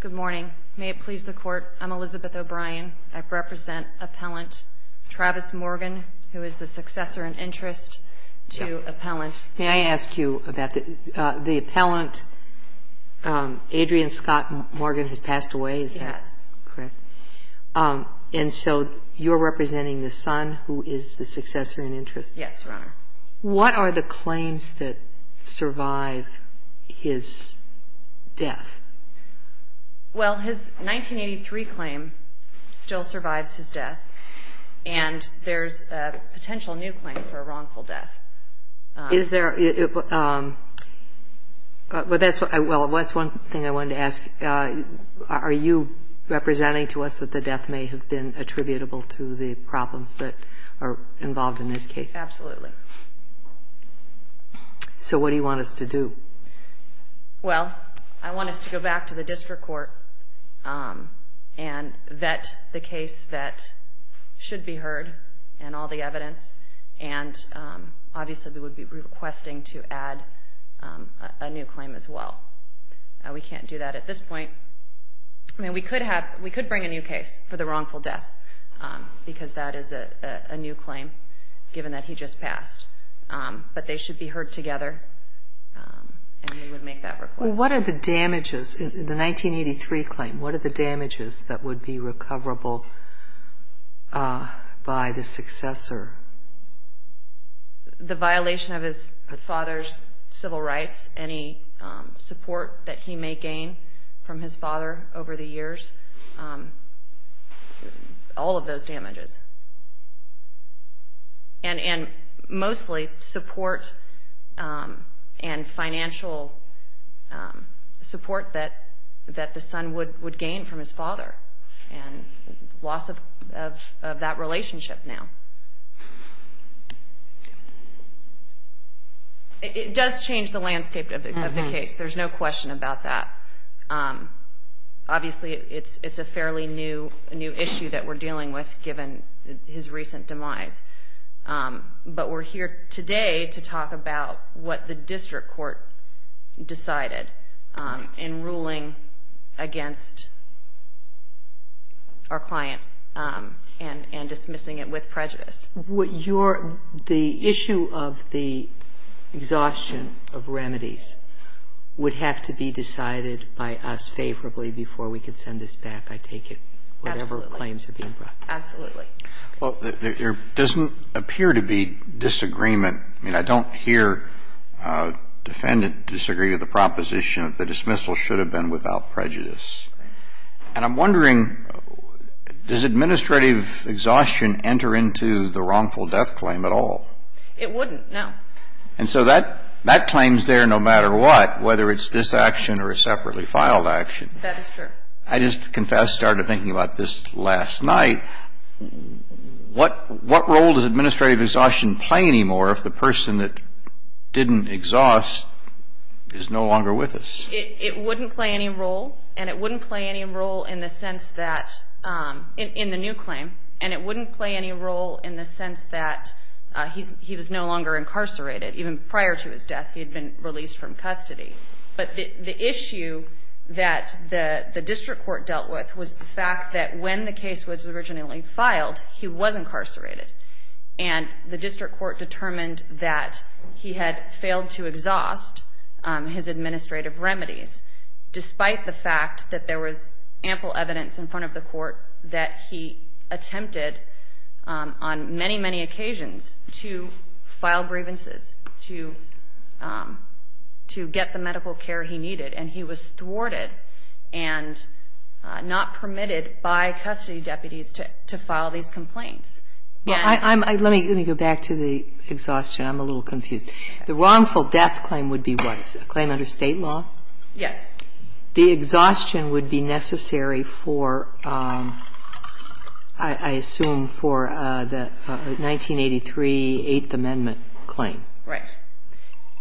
Good morning. May it please the court. I'm Elizabeth O'Brien. I represent appellant Travis Morgan, who is the successor and interest to appellant. May I ask you about the appellant? Adrian Scott Morgan has passed away. Is that correct? Um, and so you're representing the son who is the successor in interest? Yes, Your Honor. What are the claims that survive his death? Well, his 1983 claim still survives his death, and there's a potential new claim for a wrongful death. Is there? Um, but that's well, that's one thing I wanted to ask. Are you representing to us that the death may have been attributable to the problems that are involved in this case? Absolutely. So what do you want us to do? Well, I want us to go back to the district court, um, and vet the case that should be heard and all the evidence. And, um, obviously, we would be requesting to add a new claim as well. We can't do that at this point. I mean, we could have we could bring a new case for the wrongful death because that is a new claim, given that he just passed. Um, but they should be heard together. Um, and we would make that request. What are the damages in the 1983 claim? What are the damages that would be recoverable, uh, by the successor? The violation of his father's civil rights, any support that he may gain from his father over the years? Um, all of those damages and and mostly support, um, and financial, um, support that that the son would would gain from his father and loss of of of that relationship. Now, yeah, it does change the landscape of the case. There's no question about that. Um, obviously, it's it's a fairly new new issue that we're dealing with, given his recent demise. Um, but we're here today to talk about what the district court decided, um, in ruling against our client, um, and and dismissing it with prejudice. What you're the issue of the exhaustion of remedies would have to be decided by us favorably before we could send this back. I take it whatever claims are being brought. Absolutely. Well, there doesn't appear to be disagreement. I mean, I don't hear, uh, defendant disagree with the proposition that the dismissal should have been without prejudice. And I'm wondering, does administrative exhaustion enter into the wrongful death claim at all? It wouldn't know. And so that that claims there, no matter what, whether it's this action or a separately filed action. That is true. I just confess, started thinking about this last night. What what role does administrative exhaustion play anymore? If the person that didn't exhaust is no longer with us, it wouldn't play any role. And it wouldn't play any role in the sense that, um, in the new claim. And it wouldn't play any role in the sense that, uh, he's he was no longer incarcerated. Even prior to his death, he had been released from custody. But the issue that the district court dealt with was the fact that when the case was originally filed, he was incarcerated. And the district court determined that he had failed to exhaust his administrative remedies, despite the fact that there was ample evidence in front of the court that he attempted on many, many occasions to file grievances to, um, to get the medical care he needed. And he was thwarted and not permitted by custody deputies to file these complaints. Well, I, I'm, I, let me, let me go back to the exhaustion. I'm a little confused. The wrongful death claim would be what? A claim under state law? Yes. The exhaustion would be necessary for, um, I assume for, uh, the, uh, 1983 Eighth Amendment claim. Right.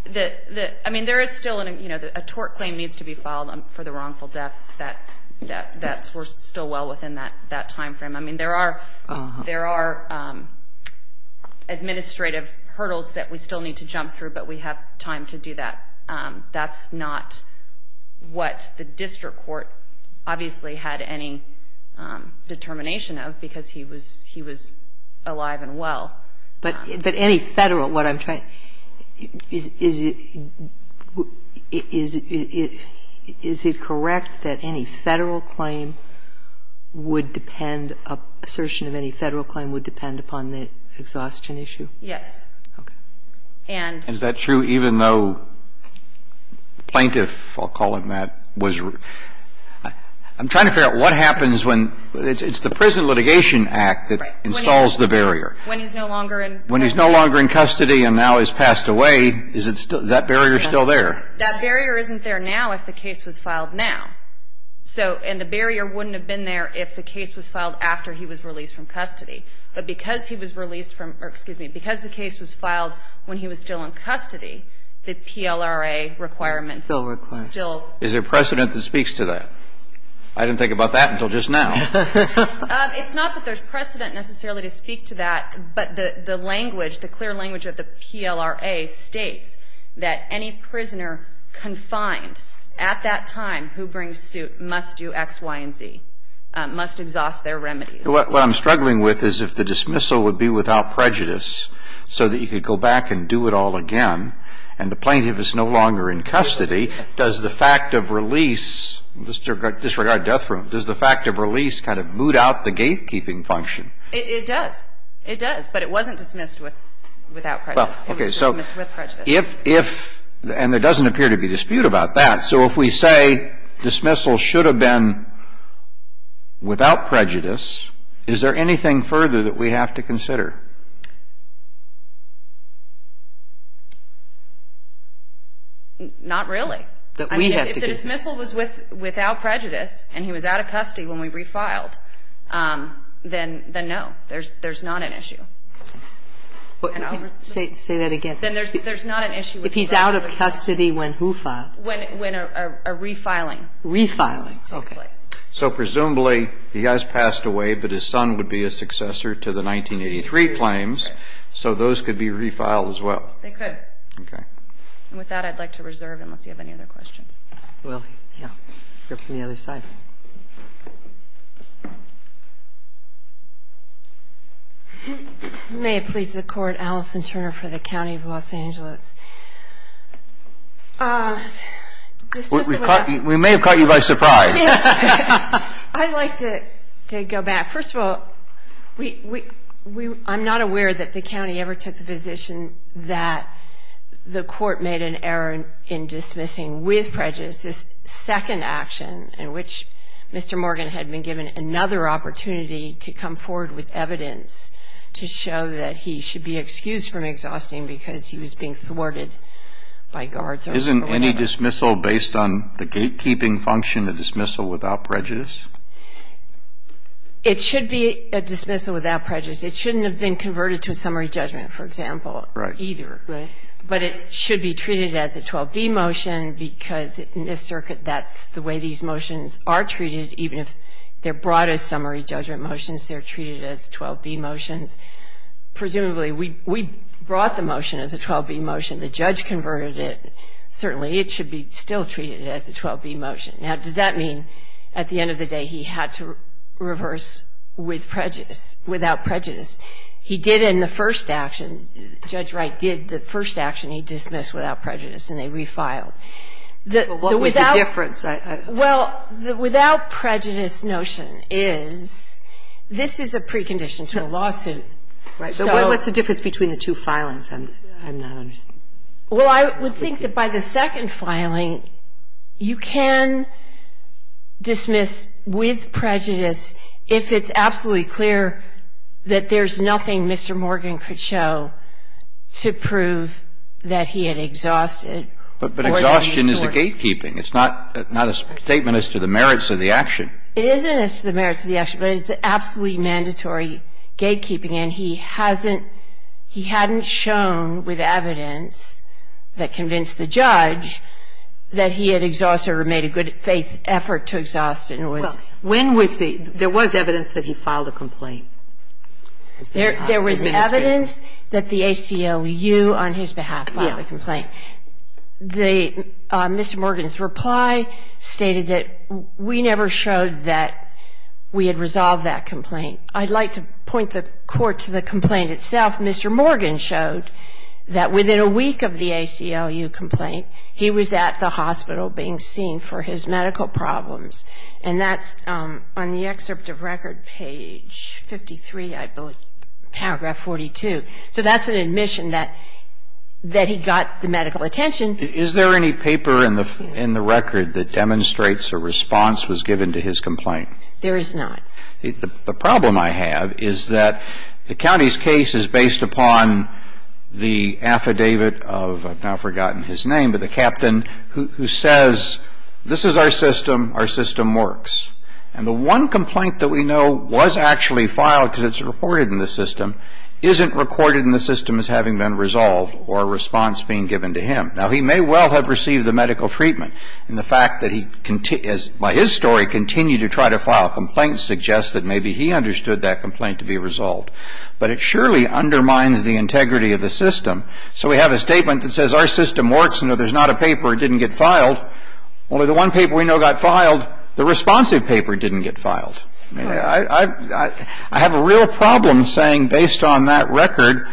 The, the, I mean, there is still an, you know, a tort claim needs to be filed for the wrongful death. That, that, that's, we're still well within that, that timeframe. I mean, there are, there are, um, administrative hurdles that we still need to jump through, but we have time to do that. Um, that's not what the district court obviously had any, um, determination of because he was, he was alive and well. But, but any Federal, what I'm trying, is, is it, is it, is it correct that any would depend, assertion of any Federal claim would depend upon the exhaustion issue? Yes. Okay. And. Is that true even though plaintiff, I'll call him that, was, I'm trying to figure out what happens when, it's, it's the Prison Litigation Act that installs the barrier. When he's no longer in. When he's no longer in custody and now he's passed away, is it still, is that barrier still there? That barrier isn't there now if the case was filed now. So, and the barrier wouldn't have been there if the case was filed after he was released from custody. But because he was released from, or excuse me, because the case was filed when he was still in custody, the PLRA requirements. Still require. Still. Is there precedent that speaks to that? I didn't think about that until just now. Um, it's not that there's precedent necessarily to speak to that, but the, the language, the clear language of the PLRA states that any prisoner confined at that time who brings suit must do X, Y, and Z, must exhaust their remedies. What I'm struggling with is if the dismissal would be without prejudice so that you could go back and do it all again and the plaintiff is no longer in custody, does the fact of release, disregard death row, does the fact of release kind of boot out the gatekeeping function? It does. It does. But it wasn't dismissed with, without prejudice. Well, okay. So if, if, and there doesn't appear to be dispute about that. So if we say dismissal should have been without prejudice, is there anything further that we have to consider? Not really. That we have to consider. If the dismissal was with, without prejudice and he was out of custody when we refiled, then, then no. There's, there's not an issue. Say, say that again. Then there's, there's not an issue. If he's out of custody when who filed? When, when a refiling. Refiling. Okay. So presumably he has passed away, but his son would be a successor to the 1983 claims. So those could be refiled as well. They could. Okay. And with that, I'd like to reserve unless you have any other questions. Well, yeah. Go from the other side. May it please the court, Alison Turner for the County of Los Angeles. We may have caught you by surprise. I'd like to go back. First of all, we, we, we, I'm not aware that the County ever took the position that the court made an error in dismissing with prejudice. This second action in which Mr. Morgan had been given another opportunity to come forward with evidence to show that he should be excused from exhausting because he was being thwarted by guards. Isn't any dismissal based on the gatekeeping function, a dismissal without prejudice? It should be a dismissal without prejudice. It shouldn't have been converted to a summary judgment, for example. Right. Either. Right. But it should be treated as a 12B motion because in this circuit, that's the way these motions are treated, even if they're brought as summary judgment motions, they're treated as 12B motions. Presumably, we, we brought the motion as a 12B motion. The judge converted it. Certainly, it should be still treated as a 12B motion. Now, does that mean, at the end of the day, he had to reverse with prejudice, without prejudice? He did in the first action, Judge Wright did the first action, he dismissed without prejudice, and they refiled. The, the without, Well, what was the difference? Well, the without prejudice notion is, this is a precondition to a lawsuit. Right. So what's the difference between the two filings? I'm, I'm not understanding. Well, I would think that by the second filing, you can dismiss with prejudice if it's absolutely clear that there's nothing Mr. Morgan could show to prove that he had exhausted or that he was flawed. But, but exhaustion is a gatekeeping. It's not, not a statement as to the merits of the action. It isn't as to the merits of the action, but it's absolutely mandatory gatekeeping. And he hasn't, he hadn't shown with evidence that convinced the judge that he had exhausted or made a good faith effort to exhaust it and was. Well, when was the, there was evidence that he filed a complaint? There, there was evidence that the ACLU on his behalf filed a complaint. Yeah. The, Mr. Morgan's reply stated that we never showed that we had resolved that complaint. I'd like to point the court to the complaint itself. Mr. Morgan showed that within a week of the ACLU complaint, he was at the hospital being seen for his medical problems. And that's on the excerpt of record page 53, I believe, paragraph 42. So that's an admission that, that he got the medical attention. Is there any paper in the, in the record that demonstrates a response was given to his complaint? There is not. The problem I have is that the county's case is based upon the affidavit of, I've now forgotten his name, but the captain who says, this is our system, our system works. And the one complaint that we know was actually filed, because it's reported in the system, isn't recorded in the system as having been resolved or a response being given to him. Now, he may well have received the medical treatment. And the fact that he, by his story, continued to try to file complaints suggests that maybe he understood that complaint to be resolved. But it surely undermines the integrity of the system. So we have a statement that says, our system works, and there's not a paper that didn't get filed. Only the one paper we know got filed, the responsive paper didn't get filed. I mean, I, I, I have a real problem saying, based on that record,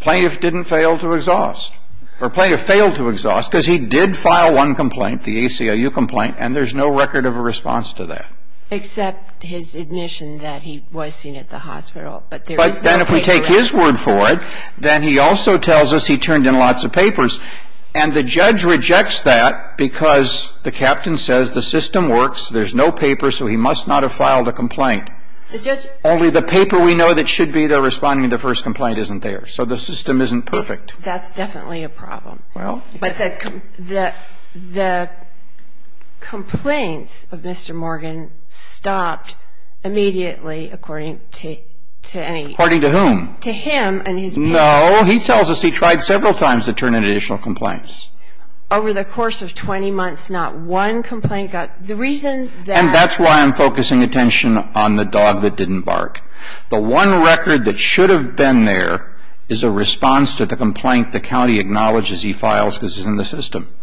plaintiff didn't fail to exhaust, or plaintiff failed to exhaust, because he did file one complaint, the ACLU complaint, and there's no record of a response to that. Except his admission that he was seen at the hospital, but there is no paper But then if we take his word for it, then he also tells us he turned in lots of papers. And the judge rejects that because the captain says, the system works, there's no paper, so he must not have filed a complaint. Only the paper we know that should be there responding to the first complaint isn't there. So the system isn't perfect. That's definitely a problem. Well. But the, the, the complaints of Mr. Morgan stopped immediately, according to, to any According to whom? To him and his No. He tells us he tried several times to turn in additional complaints. Over the course of 20 months, not one complaint got, the reason that And that's why I'm focusing attention on the dog that didn't bark. The one record that should have been there is a response to the complaint the county acknowledges he files because it's in the system.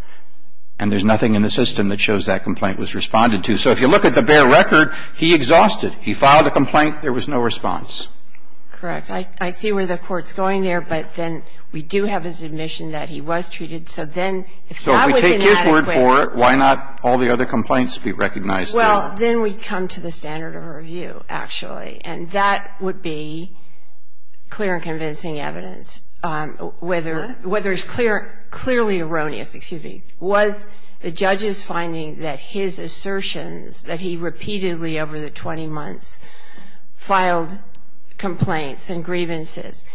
And there's nothing in the system that shows that complaint was responded to. So if you look at the bare record, he exhausted. He filed a complaint. There was no response. Correct. I see where the Court's going there, but then we do have his admission that he was treated. So then if he was inadequate So if we take his word for it, why not all the other complaints be recognized Well, then we come to the standard of review, actually. And that would be clear and convincing evidence whether, whether it's clear, clearly erroneous, excuse me, was the judge's finding that his assertions that he repeatedly over the 20 months filed complaints and grievances,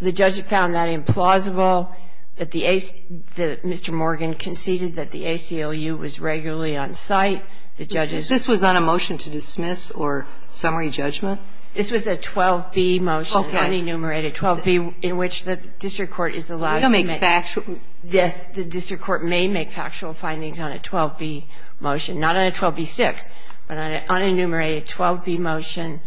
the judge found that implausible, that the AC, that Mr. Morgan conceded that the ACLU was regularly on site, the judge's This was on a motion to dismiss or summary judgment? This was a 12B motion, unenumerated, 12B, in which the district court is allowed to make We don't make factual Yes, the district court may make factual findings on a 12B motion, not on a 12B-6, but on an unenumerated 12B motion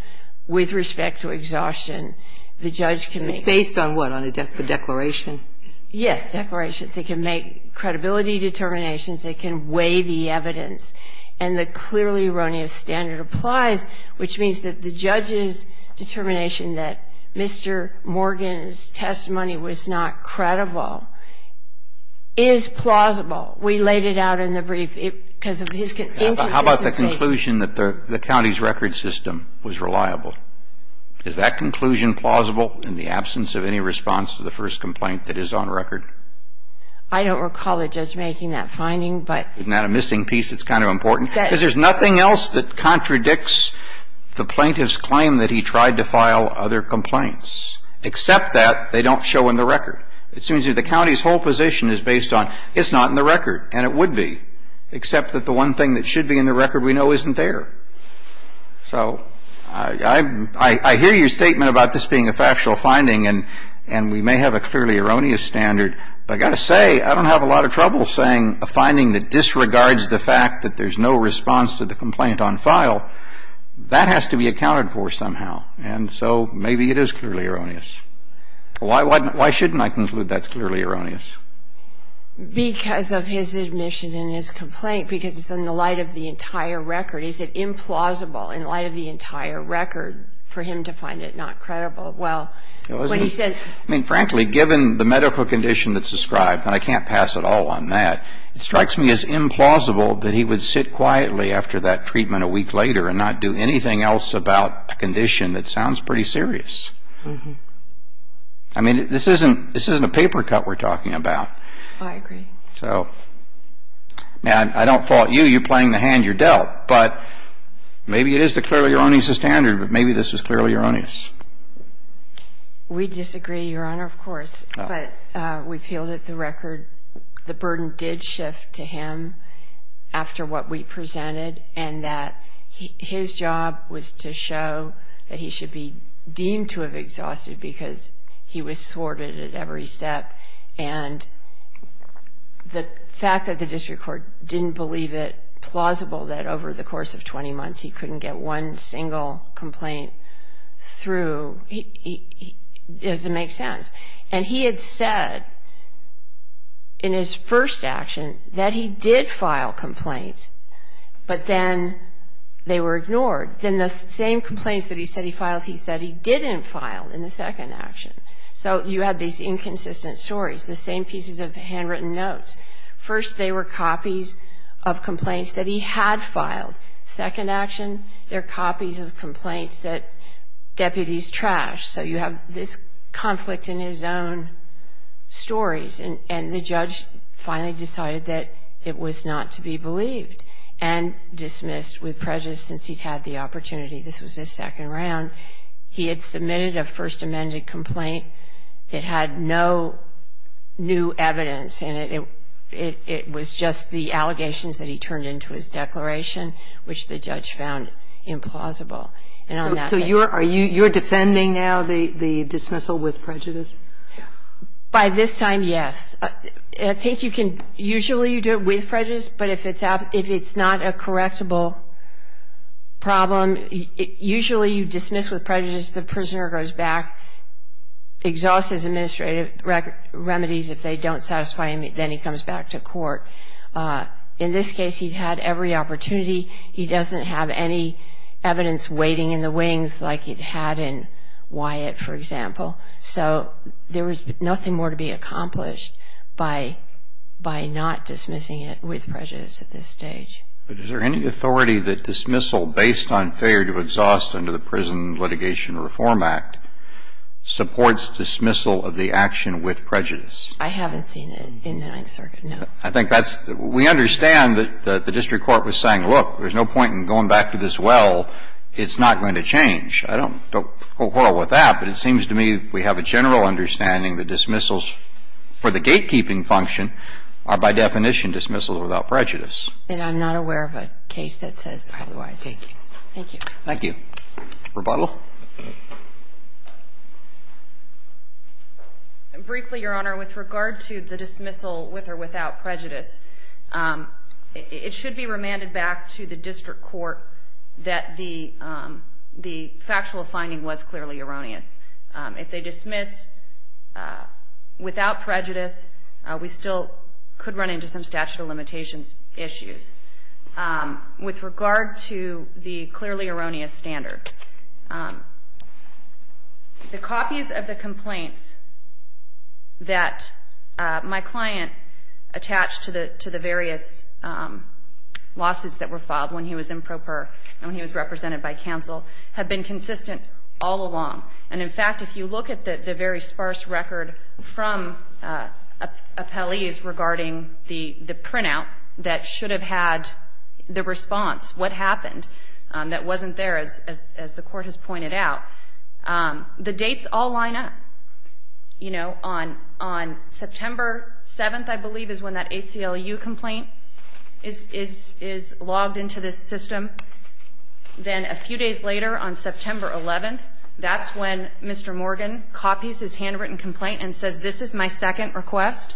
with respect to exhaustion, the judge can make It's based on what, on a declaration? Yes, declarations. They can make credibility determinations, they can weigh the evidence, and the clearly erroneous standard applies, which means that the judge's determination that Mr. Morgan's testimony was not credible is plausible. We laid it out in the brief because of his inconsistency How about the conclusion that the county's record system was reliable? Is that conclusion plausible in the absence of any response to the first complaint that is on record? I don't recall the judge making that finding, but Isn't that a missing piece that's kind of important? Because there's nothing else that contradicts the plaintiff's claim that he tried to file other complaints, except that they don't show in the record. It seems that the county's whole position is based on it's not in the record, and it would be, except that the one thing that should be in the record we know isn't there. So I hear your statement about this being a factual finding, and we may have a clearly erroneous standard, but I've got to say, I don't have a lot of trouble saying a finding that disregards the fact that there's no response to the complaint on file, that has to be accounted for somehow, and so maybe it is clearly erroneous. Why shouldn't I conclude that's clearly erroneous? Because of his admission in his complaint, because it's in the light of the entire record. Is it implausible in light of the entire record for him to find it not credible? Well, when he said... I mean, frankly, given the medical condition that's described, and I can't pass at all on that, it strikes me as implausible that he would sit quietly after that treatment a week later and not do anything else about a condition that sounds pretty serious. I mean, this isn't a paper cut we're talking about. I agree. So, I don't fault you. You're playing the hand you're dealt, but maybe it is the clearly erroneous standard, but maybe this is clearly erroneous. We disagree, Your Honor, of course, but we feel that the record, the burden did shift to him after what we presented, and that his job was to show that he should be deemed to have exhausted because he was thwarted at every step. And the fact that the district court didn't believe it plausible that over the course of 20 months he couldn't get one single complaint through doesn't make sense. And he had said in his first action that he did file complaints, but then they were ignored. Then the same complaints that he said he filed, he said he didn't file in the second action. So you had these inconsistent stories, the same pieces of handwritten notes. First they were copies of complaints that he had filed. Second action, they're copies of complaints that deputies trashed. So you have this conflict in his own stories. And the judge finally decided that it was not to be believed and dismissed with prejudice since he'd had the opportunity. This was his second round. He had submitted a First Amendment complaint. It had no new evidence in it. It was just the allegations that he turned into his declaration, which the judge found implausible. And on that basis... So you're defending now the dismissal with prejudice? By this time, yes. I think you can... Usually you do it with prejudice, but if it's not a correctable problem, usually you dismiss with prejudice, the prisoner goes back, exhausts his administrative remedies. If they don't satisfy him, then he comes back to court. In this case, he'd had every opportunity. He doesn't have any evidence waiting in the wings like he'd had in Wyatt, for example. So there was nothing more to be accomplished by not dismissing it with prejudice at this stage. But is there any authority that dismissal based on failure to exhaust under the Prison Litigation Reform Act supports dismissal of the action with prejudice? I haven't seen it in the Ninth Circuit, no. I think that's... We understand that the district court was saying, look, there's no point in going back to this well. It's not going to change. I don't quarrel with that, but it seems to me we have a general understanding that dismissals for the gatekeeping function are by definition dismissals without prejudice. And I'm not aware of a case that says otherwise. Thank you. Thank you. Thank you. Rebuttal. Briefly, Your Honor, with regard to the dismissal with or without prejudice, it should be remanded back to the district court that the factual finding was clearly erroneous. If they dismiss without prejudice, we still could run into some statute of limitations issues. With regard to the clearly erroneous standard, the copies of the complaints that my client attached to the various lawsuits that were filed when he was in pro per and when he was In fact, if you look at the very sparse record from appellees regarding the printout that should have had the response, what happened, that wasn't there, as the court has pointed out, the dates all line up. You know, on September 7th, I believe, is when that ACLU complaint is logged into this system. Then, a few days later, on September 11th, that's when Mr. Morgan copies his handwritten complaint and says, this is my second request.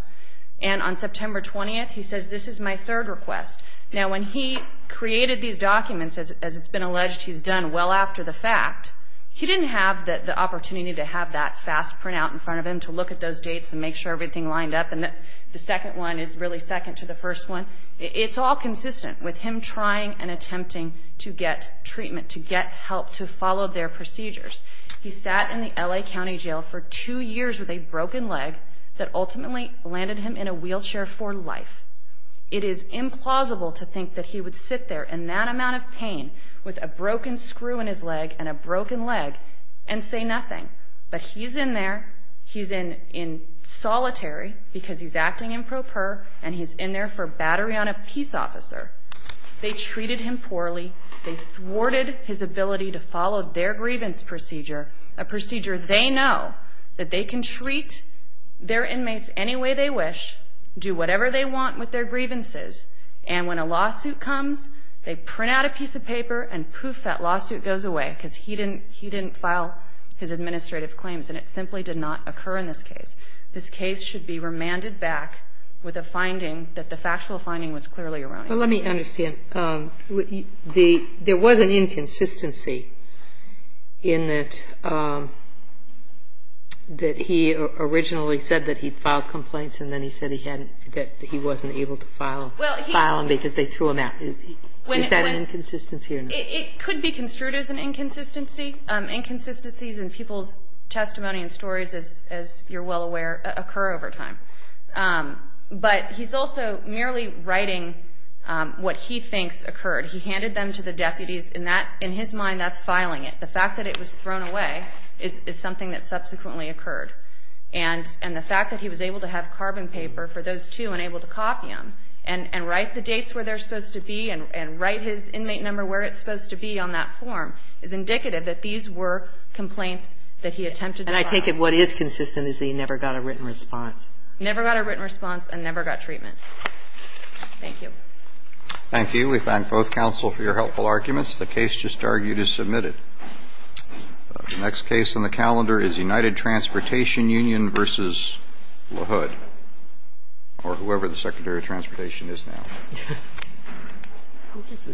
And on September 20th, he says, this is my third request. Now, when he created these documents, as it's been alleged, he's done well after the fact, he didn't have the opportunity to have that fast printout in front of him to look at those dates and make sure everything lined up. And the second one is really second to the first one. It's all consistent with him trying and attempting to get treatment, to get help, to follow their procedures. He sat in the L.A. County Jail for two years with a broken leg that ultimately landed him in a wheelchair for life. It is implausible to think that he would sit there in that amount of pain with a broken screw in his leg and a broken leg and say nothing. But he's in there, he's in solitary because he's acting in pro per and he's in there for a battery on a peace officer. They treated him poorly, they thwarted his ability to follow their grievance procedure, a procedure they know that they can treat their inmates any way they wish, do whatever they want with their grievances, and when a lawsuit comes, they print out a piece of paper and poof, that lawsuit goes away because he didn't file his administrative claims and it simply did not occur in this case. This case should be remanded back with a finding that the factual finding was clearly erroneous. But let me understand, there was an inconsistency in that he originally said that he filed complaints and then he said he wasn't able to file them because they threw him out. Is that an inconsistency or not? It could be construed as an inconsistency. I think inconsistencies in people's testimony and stories, as you're well aware, occur over time. But he's also merely writing what he thinks occurred. He handed them to the deputies, in his mind that's filing it. The fact that it was thrown away is something that subsequently occurred. And the fact that he was able to have carbon paper for those two and able to copy them and write the dates where they're supposed to be and write his inmate number where it's supposed to be on that form is indicative that these were complaints that he attempted to file. And I take it what is consistent is that he never got a written response. Never got a written response and never got treatment. Thank you. Thank you. We thank both counsel for your helpful arguments. The case just argued is submitted. The next case on the calendar is United Transportation Union v. LaHood, or whoever the Secretary of Transportation is now. Who is the Secretary?